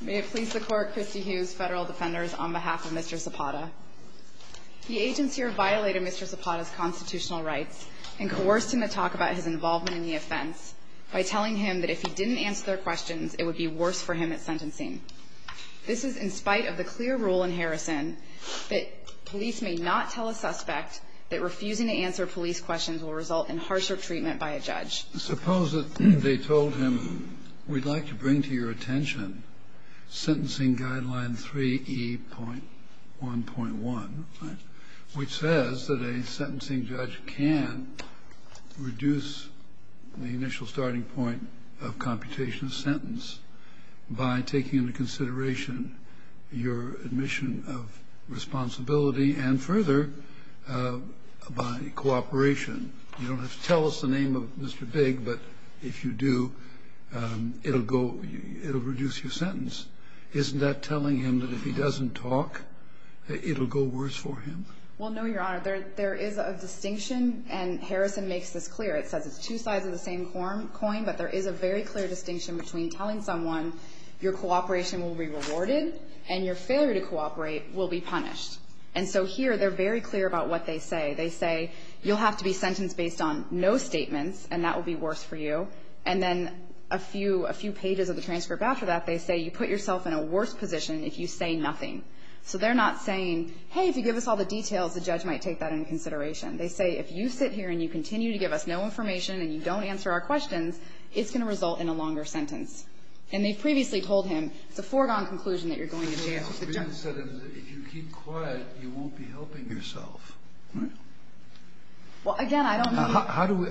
May it please the court, Christy Hughes, Federal Defenders, on behalf of Mr. Zapata. The agents here violated Mr. Zapata's constitutional rights and coerced him to talk about his involvement in the offense by telling him that if he didn't answer their questions, it would be worse for him at sentencing. This is in spite of the clear rule in Harrison that police may not tell a suspect that refusing to answer police questions will result in harsher treatment by a judge. Suppose that they told him, we'd like to bring to your attention sentencing guideline 3E.1.1, which says that a sentencing judge can reduce the initial starting point of computation of sentence by taking into consideration your admission of responsibility and further by cooperation. You don't have to tell us the name of Mr. Bigg, but if you do, it'll go, it'll reduce your sentence. Isn't that telling him that if he doesn't talk, it'll go worse for him? Well, no, Your Honor. There is a distinction, and Harrison makes this clear. It says it's two sides of the same coin, but there is a very clear distinction between telling someone your cooperation will be rewarded and your failure to cooperate will be punished. And so here they're very clear about what they say. They say you'll have to be sentenced based on no statements, and that will be worse for you. And then a few pages of the transcript after that, they say you put yourself in a worse position if you say nothing. So they're not saying, hey, if you give us all the details, the judge might take that into consideration. They say if you sit here and you continue to give us no information and you don't answer our questions, it's going to result in a longer sentence. And they've previously told him it's a foregone conclusion that you're going to jail. Kagan said if you keep quiet, you won't be helping yourself. Right? Well, again, I don't know. How do we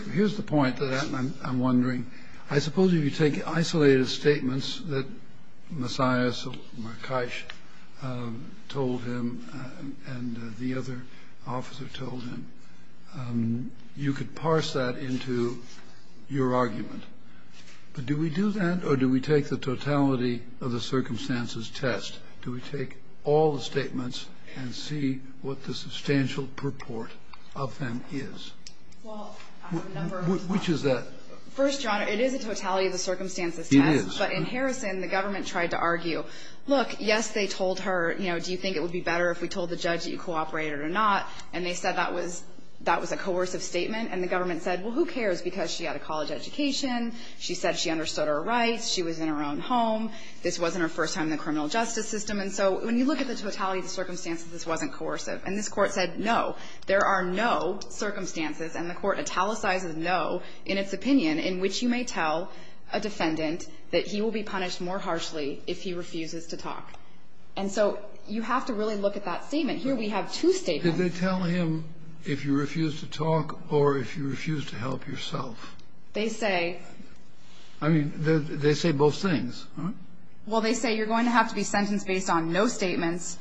– here's the point that I'm wondering. I suppose if you take isolated statements that Messiah Markeish told him and the other officer told him, you could parse that into your argument. But do we do that, or do we take the totality of the circumstances test? Do we take all the statements and see what the substantial purport of them is? Which is that? First, Your Honor, it is a totality of the circumstances test. It is. But in Harrison, the government tried to argue, look, yes, they told her, you know, do you think it would be better if we told the judge that you cooperated or not, and they said that was a coercive statement. And the government said, well, who cares, because she had a college education. She said she understood her rights. She was in her own home. This wasn't her first time in the criminal justice system. And so when you look at the totality of the circumstances, this wasn't coercive. And this Court said no. There are no circumstances, and the Court italicizes no in its opinion, in which you may tell a defendant that he will be punished more harshly if he refuses to talk. And so you have to really look at that statement. Here we have two statements. Kennedy, did they tell him if you refuse to talk or if you refuse to help yourself? They say. I mean, they say both things, right? Well, they say you're going to have to be sentenced based on no statements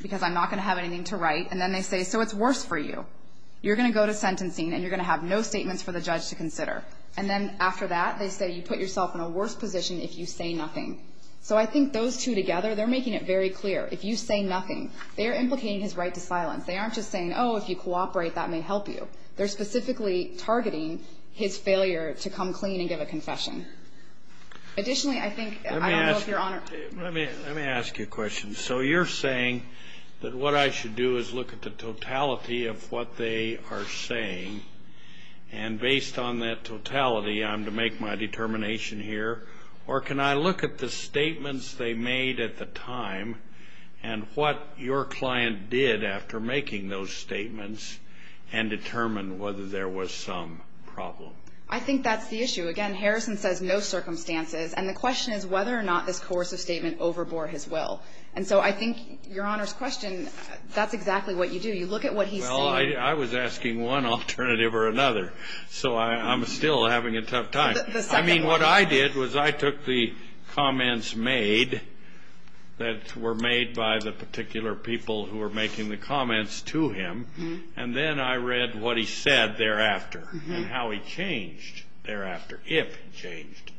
because I'm not going to have anything to write. And then they say, so it's worse for you. You're going to go to sentencing, and you're going to have no statements for the judge to consider. And then after that, they say you put yourself in a worse position if you say nothing. So I think those two together, they're making it very clear. If you say nothing, they're implicating his right to silence. They aren't just saying, oh, if you cooperate, that may help you. They're specifically targeting his failure to come clean and give a confession. Additionally, I think, I don't know if Your Honor ---- Let me ask you a question. So you're saying that what I should do is look at the totality of what they are saying, and based on that totality, I'm to make my determination here, or can I look at the And what your client did after making those statements and determine whether there was some problem. I think that's the issue. Again, Harrison says no circumstances. And the question is whether or not this coercive statement overbore his will. And so I think, Your Honor's question, that's exactly what you do. You look at what he's saying. Well, I was asking one alternative or another. So I'm still having a tough time. The second one. And what I did was I took the comments made that were made by the particular people who were making the comments to him, and then I read what he said thereafter and how he changed thereafter, if he changed.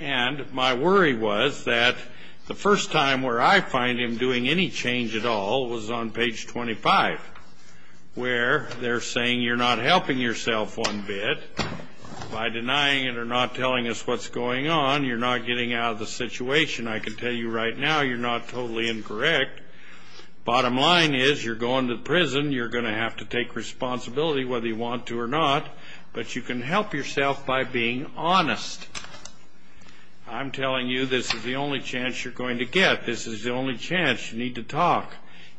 And my worry was that the first time where I find him doing any change at all was on page 25, where they're saying you're not helping yourself one bit by denying it or not telling us what's going on. You're not getting out of the situation. I can tell you right now you're not totally incorrect. Bottom line is you're going to prison. You're going to have to take responsibility whether you want to or not. But you can help yourself by being honest. I'm telling you this is the only chance you're going to get. This is the only chance. You need to talk.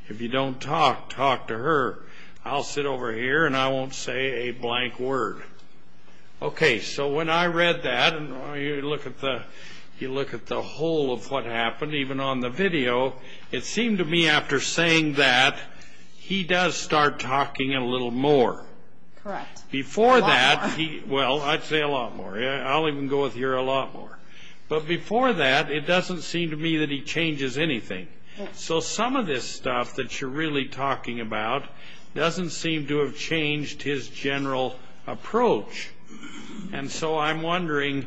If you don't talk, talk to her. I'll sit over here, and I won't say a blank word. Okay, so when I read that, and you look at the whole of what happened, even on the video, it seemed to me after saying that he does start talking a little more. Correct. A lot more. Well, I'd say a lot more. I'll even go with here, a lot more. But before that, it doesn't seem to me that he changes anything. So some of this stuff that you're really talking about doesn't seem to have changed his general approach. And so I'm wondering,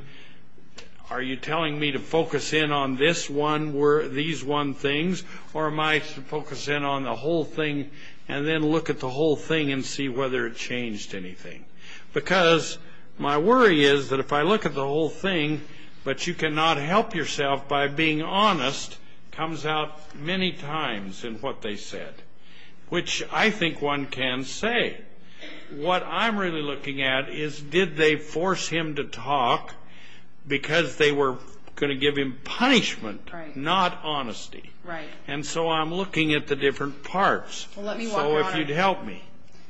are you telling me to focus in on this one, these one things, or am I to focus in on the whole thing and then look at the whole thing and see whether it changed anything? Because my worry is that if I look at the whole thing, but you cannot help yourself by being honest, comes out many times in what they said, which I think one can say. What I'm really looking at is did they force him to talk because they were going to give him punishment, not honesty. Right. And so I'm looking at the different parts. Well, let me walk you on it. So if you'd help me.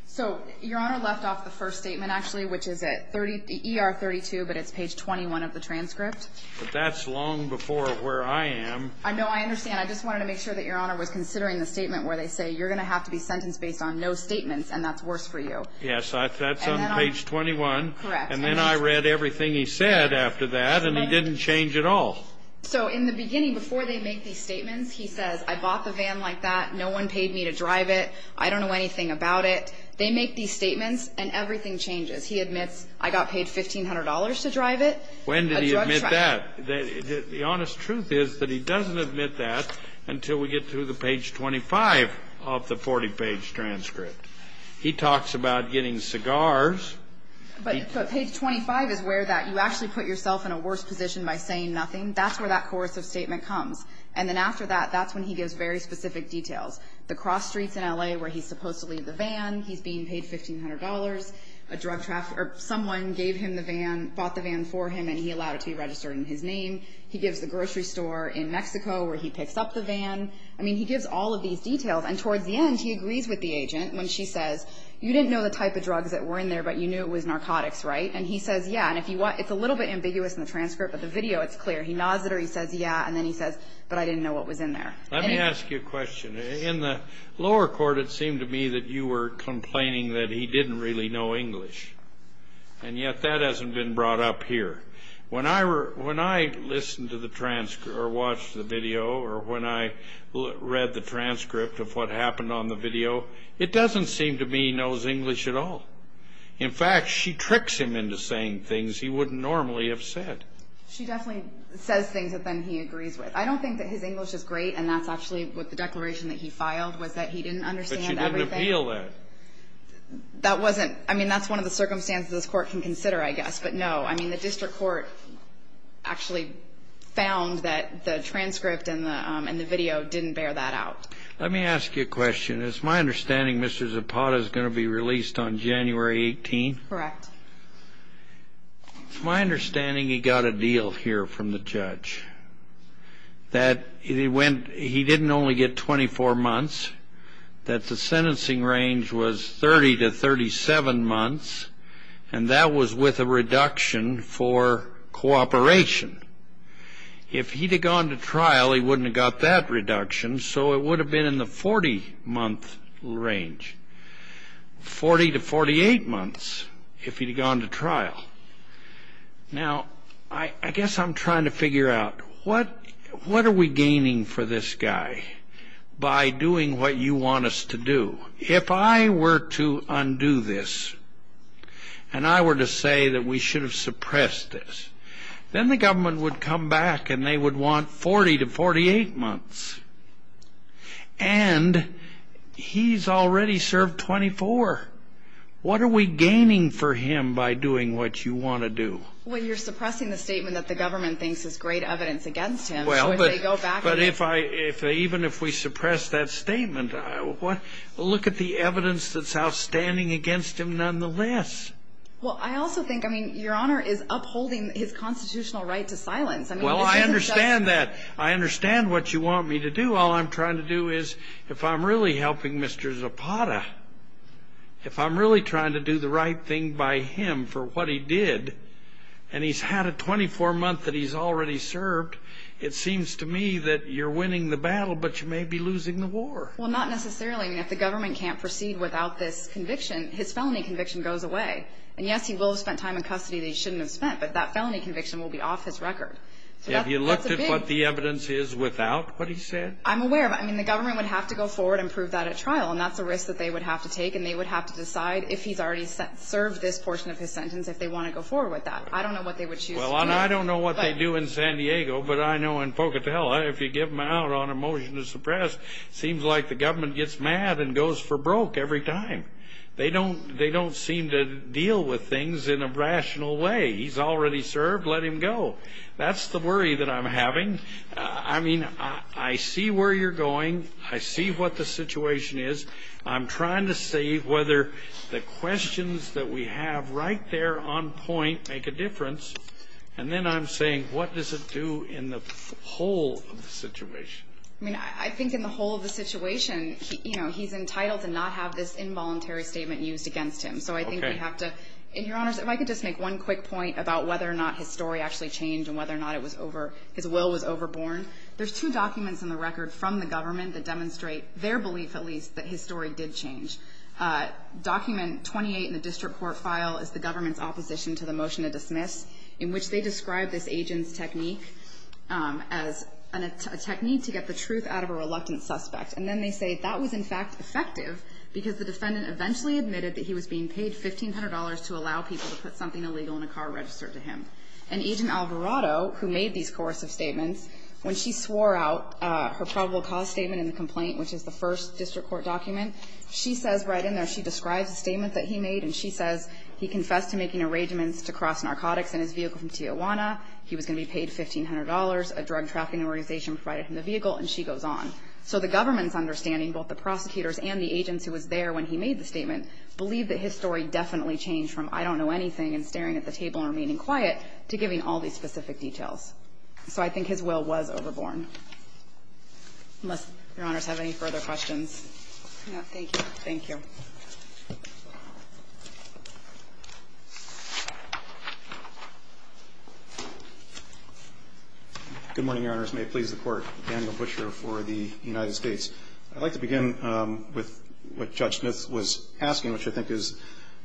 So Your Honor left off the first statement, actually, which is at ER 32, but it's page 21 of the transcript. But that's long before where I am. No, I understand. I just wanted to make sure that Your Honor was considering the statement where they say, you're going to have to be sentenced based on no statements, and that's worse for you. Yes, that's on page 21. Correct. And then I read everything he said after that, and he didn't change at all. So in the beginning, before they make these statements, he says, I bought the van like that. No one paid me to drive it. I don't know anything about it. They make these statements, and everything changes. He admits, I got paid $1,500 to drive it. When did he admit that? The honest truth is that he doesn't admit that until we get to the page 25 of the 40-page transcript. He talks about getting cigars. But page 25 is where that you actually put yourself in a worse position by saying nothing. That's where that coercive statement comes. And then after that, that's when he gives very specific details. The cross streets in L.A. where he's supposed to leave the van, he's being paid $1,500, someone bought the van for him, and he allowed it to be registered in his name. He gives the grocery store in Mexico where he picks up the van. I mean, he gives all of these details. And towards the end, he agrees with the agent when she says, you didn't know the type of drugs that were in there, but you knew it was narcotics, right? And he says, yeah. And it's a little bit ambiguous in the transcript, but the video, it's clear. He nods at her. He says, yeah. And then he says, but I didn't know what was in there. Let me ask you a question. In the lower court, it seemed to me that you were complaining that he didn't really know English. And yet that hasn't been brought up here. When I listened to the transcript or watched the video or when I read the transcript of what happened on the video, it doesn't seem to me he knows English at all. In fact, she tricks him into saying things he wouldn't normally have said. She definitely says things that then he agrees with. I don't think that his English is great, and that's actually what the declaration that he filed, was that he didn't understand everything. But she didn't appeal that. That wasn't. I mean, that's one of the circumstances this court can consider, I guess. But no. I mean, the district court actually found that the transcript and the video didn't bear that out. Let me ask you a question. It's my understanding Mr. Zapata is going to be released on January 18th. Correct. It's my understanding he got a deal here from the judge that he didn't only get 24 months, that the sentencing range was 30 to 37 months, and that was with a reduction for cooperation. If he'd have gone to trial, he wouldn't have got that reduction, so it would have been in the 40-month range. 40 to 48 months if he'd have gone to trial. Now, I guess I'm trying to figure out what are we gaining for this guy by doing what you want us to do. If I were to undo this, and I were to say that we should have suppressed this, then the government would come back and they would want 40 to 48 months. And he's already served 24. What are we gaining for him by doing what you want to do? Well, you're suppressing the statement that the government thinks is great evidence against him. Well, but even if we suppress that statement, look at the evidence that's outstanding against him nonetheless. Well, I also think, I mean, Your Honor is upholding his constitutional right to silence. Well, I understand that. I understand what you want me to do. All I'm trying to do is if I'm really helping Mr. Zapata, if I'm really trying to do the right thing by him for what he did, and he's had a 24-month that he's already served, it seems to me that you're winning the battle, but you may be losing the war. Well, not necessarily. I mean, if the government can't proceed without this conviction, his felony conviction goes away. But that felony conviction will be off his record. Have you looked at what the evidence is without what he said? I'm aware of it. I mean, the government would have to go forward and prove that at trial, and that's a risk that they would have to take, and they would have to decide if he's already served this portion of his sentence, if they want to go forward with that. I don't know what they would choose to do. Well, and I don't know what they do in San Diego, but I know in Pocatello, if you give him out on a motion to suppress, it seems like the government gets mad and goes for broke every time. They don't seem to deal with things in a rational way. He's already served. Let him go. That's the worry that I'm having. I mean, I see where you're going. I see what the situation is. I'm trying to see whether the questions that we have right there on point make a difference, and then I'm saying what does it do in the whole of the situation. I mean, I think in the whole of the situation, you know, he's entitled to not have this involuntary statement used against him. So I think we have to — Okay. And, Your Honors, if I could just make one quick point about whether or not his story actually changed and whether or not it was over — his will was overborne. There's two documents in the record from the government that demonstrate their belief, at least, that his story did change. Document 28 in the district court file is the government's opposition to the motion to dismiss, in which they describe this agent's technique as a technique to get the truth out of a reluctant suspect. And then they say that was, in fact, effective because the defendant eventually admitted that he was being paid $1,500 to allow people to put something illegal in a car registered to him. And Agent Alvarado, who made these coercive statements, when she swore out her probable cause statement in the complaint, which is the first district court document, she says right in there, she describes the statement that he made, and she says he confessed to making arrangements to cross narcotics in his vehicle from Tijuana. He was going to be paid $1,500. A drug trafficking organization provided him the vehicle, and she goes on. So the government's understanding, both the prosecutors and the agents who was there when he made the statement, believe that his story definitely changed from, I don't know anything, and staring at the table and remaining quiet, to giving all these specific details. So I think his will was overborne. Unless Your Honors have any further questions. No. Thank you. Thank you. Good morning, Your Honors. May it please the Court. Daniel Buescher for the United States. I'd like to begin with what Judge Smith was asking, which I think is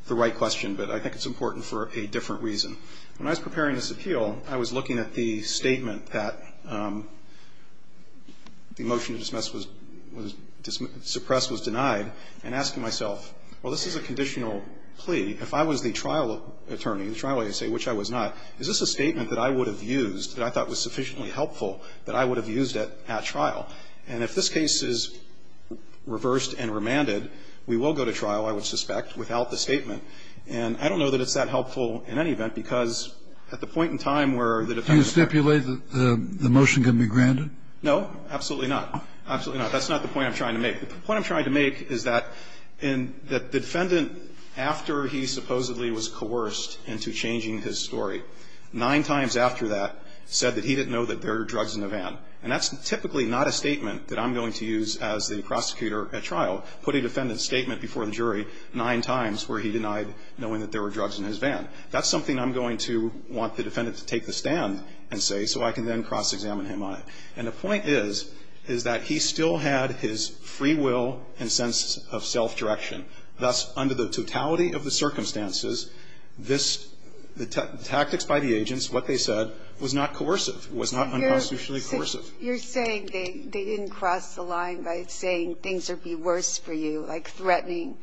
the right question, but I think it's important for a different reason. When I was preparing this appeal, I was looking at the statement that the motion to suppress was denied and asking myself, well, this is a conditional plea. If I was the trial attorney, the trial agency, which I was not, is this a statement that I would have used that I thought was sufficiently helpful that I would have used at trial? And if this case is reversed and remanded, we will go to trial, I would suspect, without the statement. And I don't know that it's that helpful in any event, because at the point in time where the defendant ---- Do you stipulate that the motion can be granted? No, absolutely not. Absolutely not. That's not the point I'm trying to make. The point I'm trying to make is that the defendant, after he supposedly was coerced into changing his story, nine times after that, said that he didn't know that there were drugs in the van. And that's typically not a statement that I'm going to use as the prosecutor at trial, put a defendant's statement before the jury nine times where he denied knowing that there were drugs in his van. That's something I'm going to want the defendant to take the stand and say so I can then cross-examine him on it. And the point is, is that he still had his free will and sense of self-direction. Thus, under the totality of the circumstances, this ---- the tactics by the agents, what they said, was not coercive, was not unconstitutionally coercive. You're saying they didn't cross the line by saying things would be worse for you, like threatening.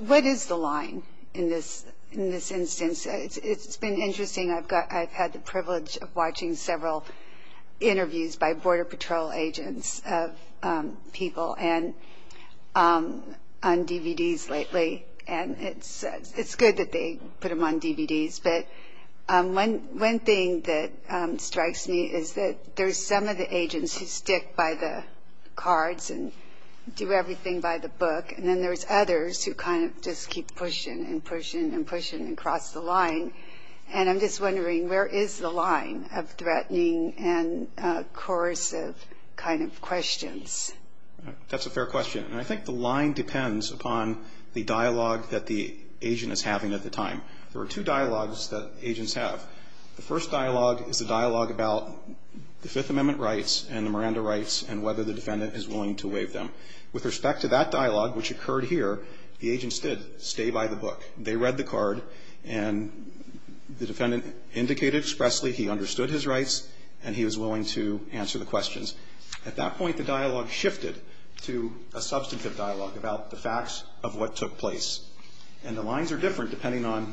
What is the line in this instance? It's been interesting. I've had the privilege of watching several interviews by Border Patrol agents of people on DVDs lately, and it's good that they put them on DVDs. But one thing that strikes me is that there's some of the agents who stick by the cards and do everything by the book, and then there's others who kind of just keep pushing and pushing and pushing and cross the line. And I'm just wondering, where is the line of threatening and coercive kind of questions? That's a fair question. And I think the line depends upon the dialogue that the agent is having at the time. There are two dialogues that agents have. The first dialogue is a dialogue about the Fifth Amendment rights and the Miranda rights and whether the defendant is willing to waive them. With respect to that dialogue, which occurred here, the agents did stay by the book. They read the card, and the defendant indicated expressly he understood his rights and he was willing to answer the questions. At that point, the dialogue shifted to a substantive dialogue about the facts of what took place. And the lines are different depending on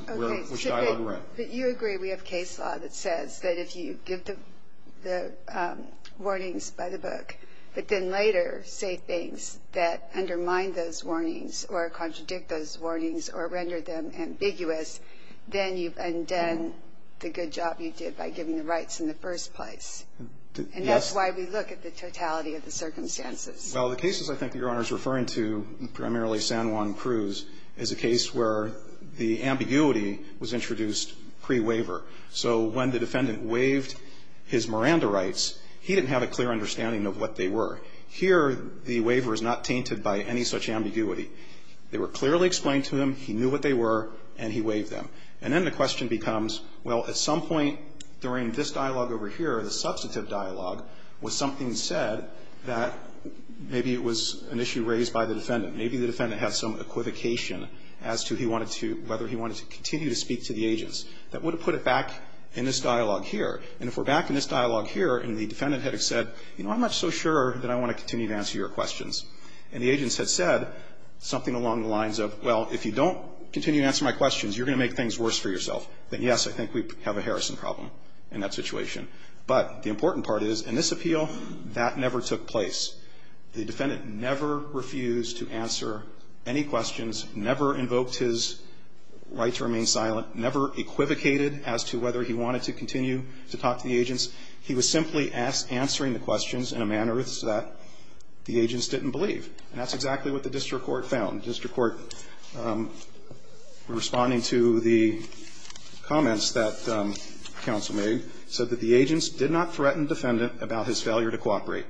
which dialogue you read. But you agree we have case law that says that if you give the warnings by the book but then later say things that undermine those warnings or contradict those warnings or render them ambiguous, then you've undone the good job you did by giving the rights in the first place. And that's why we look at the totality of the circumstances. Well, the cases I think Your Honor is referring to, primarily San Juan Cruz, is a case where the ambiguity was introduced pre-waiver. So when the defendant waived his Miranda rights, he didn't have a clear understanding of what they were. Here, the waiver is not tainted by any such ambiguity. They were clearly explained to him, he knew what they were, and he waived them. And then the question becomes, well, at some point during this dialogue over here, the substantive dialogue, was something said that maybe it was an issue raised by the defendant. Maybe the defendant had some equivocation as to whether he wanted to continue to speak to the agents. That would have put it back in this dialogue here. And if we're back in this dialogue here and the defendant had said, you know, I'm not so sure that I want to continue to answer your questions, and the agents had said something along the lines of, well, if you don't continue to answer my questions, you're going to make things worse for yourself, then, yes, I think we have a Harrison problem in that situation. But the important part is, in this appeal, that never took place. The defendant never refused to answer any questions, never invoked his right to remain silent, never equivocated as to whether he wanted to continue to talk to the agents. He was simply answering the questions in a manner that the agents didn't believe. And that's exactly what the district court found. And the district court, responding to the comments that counsel made, said that the agents did not threaten the defendant about his failure to cooperate.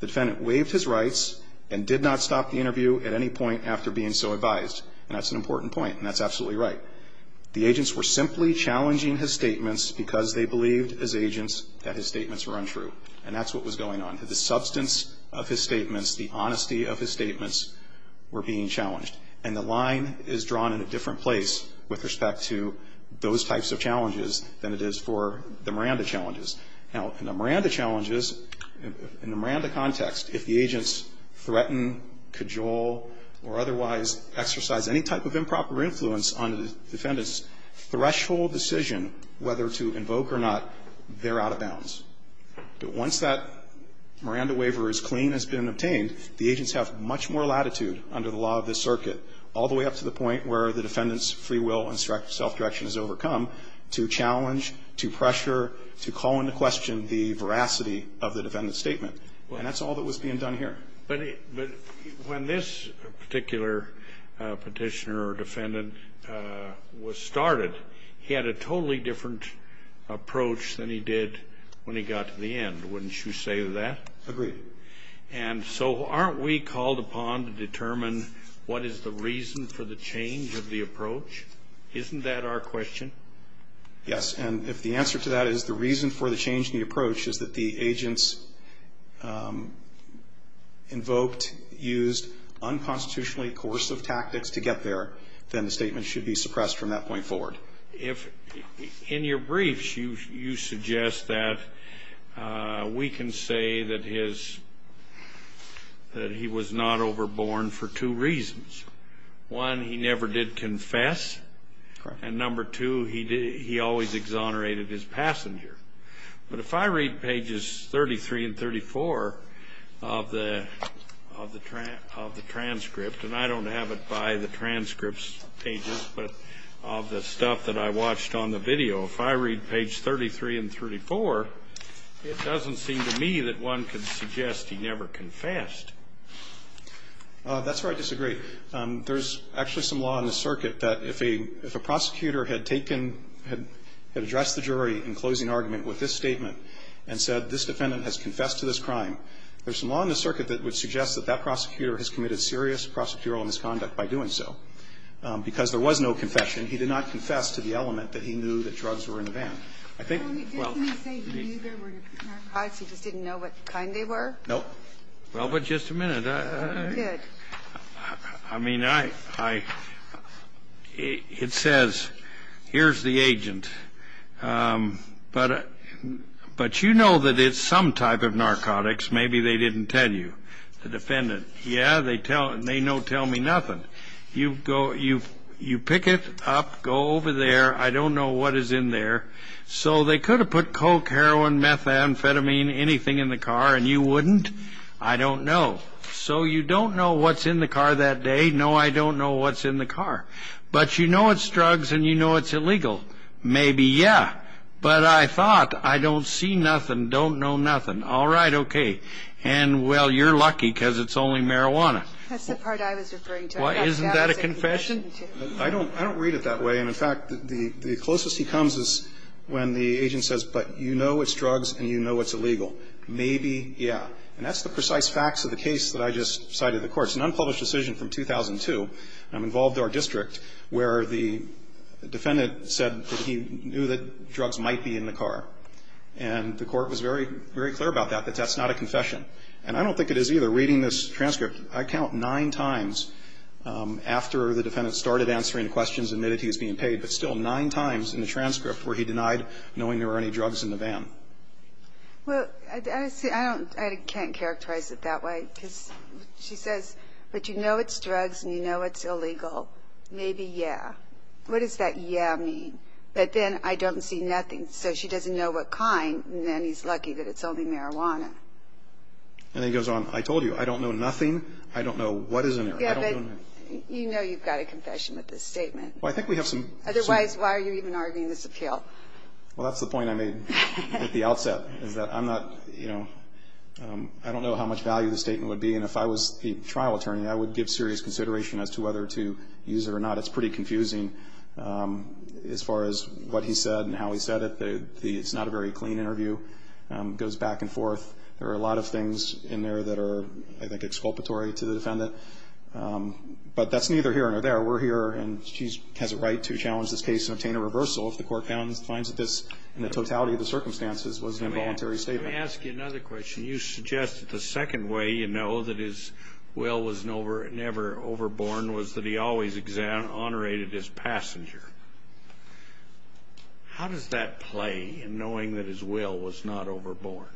The defendant waived his rights and did not stop the interview at any point after being so advised. And that's an important point, and that's absolutely right. The agents were simply challenging his statements because they believed, as agents, that his statements were untrue. And that's what was going on. The substance of his statements, the honesty of his statements were being challenged. And the line is drawn in a different place with respect to those types of challenges than it is for the Miranda challenges. Now, in the Miranda challenges, in the Miranda context, if the agents threaten, cajole, or otherwise exercise any type of improper influence on the defendants, threshold decision whether to invoke or not, they're out of bounds. But once that Miranda waiver is clean, has been obtained, the agents have much more latitude under the law of this circuit, all the way up to the point where the defendant's free will and self-direction is overcome to challenge, to pressure, to call into question the veracity of the defendant's statement. And that's all that was being done here. But when this particular Petitioner or defendant was started, he had a totally different approach than he did when he got to the end. Wouldn't you say that? Agreed. And so aren't we called upon to determine what is the reason for the change of the approach? Isn't that our question? Yes. And if the answer to that is the reason for the change in the approach is that the agents invoked, used unconstitutionally coercive tactics to get there, then the statement should be suppressed from that point forward. Well, if in your briefs you suggest that we can say that his, that he was not overborn for two reasons. One, he never did confess. Correct. And number two, he always exonerated his passenger. But if I read pages 33 and 34 of the transcript, and I don't have it by the transcripts pages, but of the stuff that I watched on the video, if I read page 33 and 34, it doesn't seem to me that one could suggest he never confessed. That's where I disagree. There's actually some law in the circuit that if a prosecutor had taken, had addressed the jury in closing argument with this statement and said this defendant has confessed to this crime, there's some law in the circuit that would suggest that that prosecutor has committed serious prosecutorial misconduct by doing so. Because there was no confession, he did not confess to the element that he knew that drugs were in the van. I think, well. Didn't he say he knew there were narcotics, he just didn't know what kind they were? No. Well, but just a minute. He did. I mean, I, I, it says here's the agent, but, but you know that it's some type of narcotics. Maybe they didn't tell you. The defendant. Yeah, they tell, they no tell me nothing. You go, you, you pick it up, go over there. I don't know what is in there. So they could have put coke, heroin, methamphetamine, anything in the car and you wouldn't? I don't know. So you don't know what's in the car that day? No, I don't know what's in the car. But you know it's drugs and you know it's illegal. Maybe, yeah. But I thought, I don't see nothing, don't know nothing. All right, okay. And, well, you're lucky because it's only marijuana. That's the part I was referring to. Isn't that a confession? I don't, I don't read it that way. And, in fact, the closest he comes is when the agent says, but you know it's drugs and you know it's illegal. Maybe, yeah. And that's the precise facts of the case that I just cited in the court. It's an unpublished decision from 2002. I'm involved in our district where the defendant said that he knew that drugs might be in the car. And the court was very, very clear about that, that that's not a confession. And I don't think it is either. Reading this transcript, I count nine times after the defendant started answering the questions and admitted he was being paid, but still nine times in the transcript where he denied knowing there were any drugs in the van. Well, I don't, I can't characterize it that way because she says, but you know it's drugs and you know it's illegal. Maybe, yeah. What does that yeah mean? But then I don't see nothing. So she doesn't know what kind, and then he's lucky that it's only marijuana. And then he goes on, I told you, I don't know nothing. I don't know what is in there. Yeah, but you know you've got a confession with this statement. Well, I think we have some. Otherwise, why are you even arguing this appeal? Well, that's the point I made at the outset is that I'm not, you know, I don't know how much value the statement would be. And if I was a trial attorney, I would give serious consideration as to whether to use it or not. That's pretty confusing as far as what he said and how he said it. It's not a very clean interview. It goes back and forth. There are a lot of things in there that are, I think, exculpatory to the defendant. But that's neither here nor there. We're here, and she has a right to challenge this case and obtain a reversal if the court finds that this, in the totality of the circumstances, was an involuntary statement. Let me ask you another question. You suggest that the second way you know that his will was never overborn was that he always exonerated his passenger. How does that play in knowing that his will was not overborn?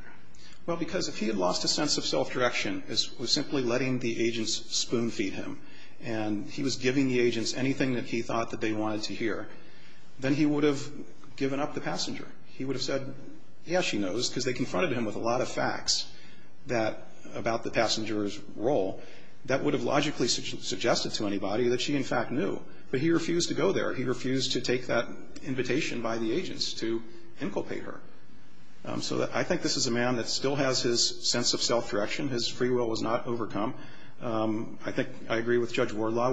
Well, because if he had lost a sense of self-direction as simply letting the agents spoon feed him and he was giving the agents anything that he thought that they wanted to hear, then he would have given up the passenger. He would have said, yes, she knows, because they confronted him with a lot of facts about the passenger's role that would have logically suggested to anybody that she, in fact, knew. But he refused to go there. He refused to take that invitation by the agents to inculpate her. So I think this is a man that still has his sense of self-direction. His free will was not overcome. I think I agree with Judge Wardlaw.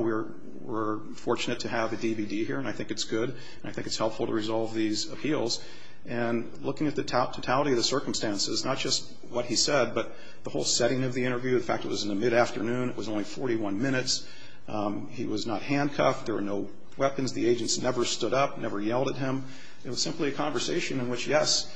We're fortunate to have a DVD here, and I think it's good, and I think it's helpful to resolve these appeals. And looking at the totality of the circumstances, not just what he said, but the whole setting of the interview. In fact, it was in the mid-afternoon. It was only 41 minutes. He was not handcuffed. There were no weapons. The agents never stood up, never yelled at him. It was simply a conversation in which, yes,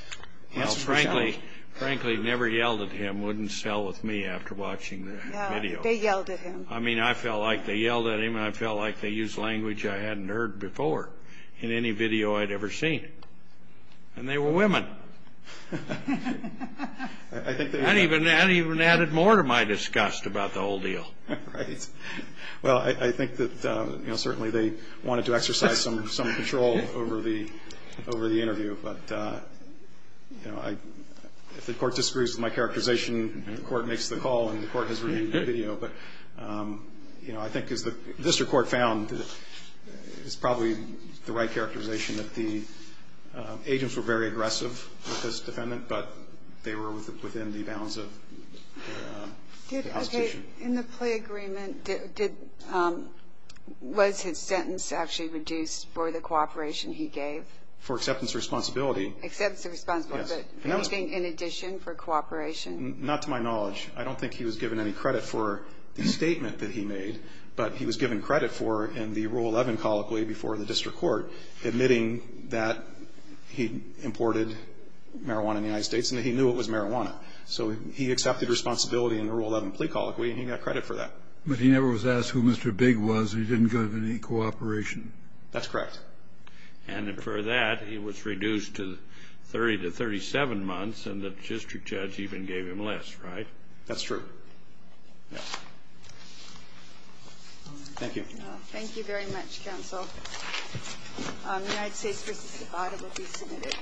the answer was yes. Frankly, never yelled at him wouldn't sell with me after watching the video. Yeah, they yelled at him. I mean, I felt like they yelled at him, and I felt like they used language I hadn't heard before in any video I'd ever seen. And they were women. That even added more to my disgust about the whole deal. Right. Well, I think that, you know, certainly they wanted to exercise some control over the interview. But, you know, if the Court disagrees with my characterization, the Court makes the call and the Court has reviewed the video. But, you know, I think as the district court found, it's probably the right characterization that the agents were very aggressive with this defendant, but they were within the bounds of the constitution. Okay. In the plea agreement, was his sentence actually reduced for the cooperation he gave? For acceptance of responsibility. Acceptance of responsibility. But anything in addition for cooperation? Not to my knowledge. I don't think he was given any credit for the statement that he made, but he was given credit for in the Rule 11 colloquy before the district court, admitting that he imported marijuana in the United States and that he knew it was marijuana. So he accepted responsibility in the Rule 11 plea colloquy, and he got credit for that. But he never was asked who Mr. Big was. He didn't go to any cooperation. That's correct. And for that, he was reduced to 30 to 37 months, and the district judge even gave him less, right? That's true. Yes. Thank you. Thank you very much, counsel. United States v. Nevada will be submitted.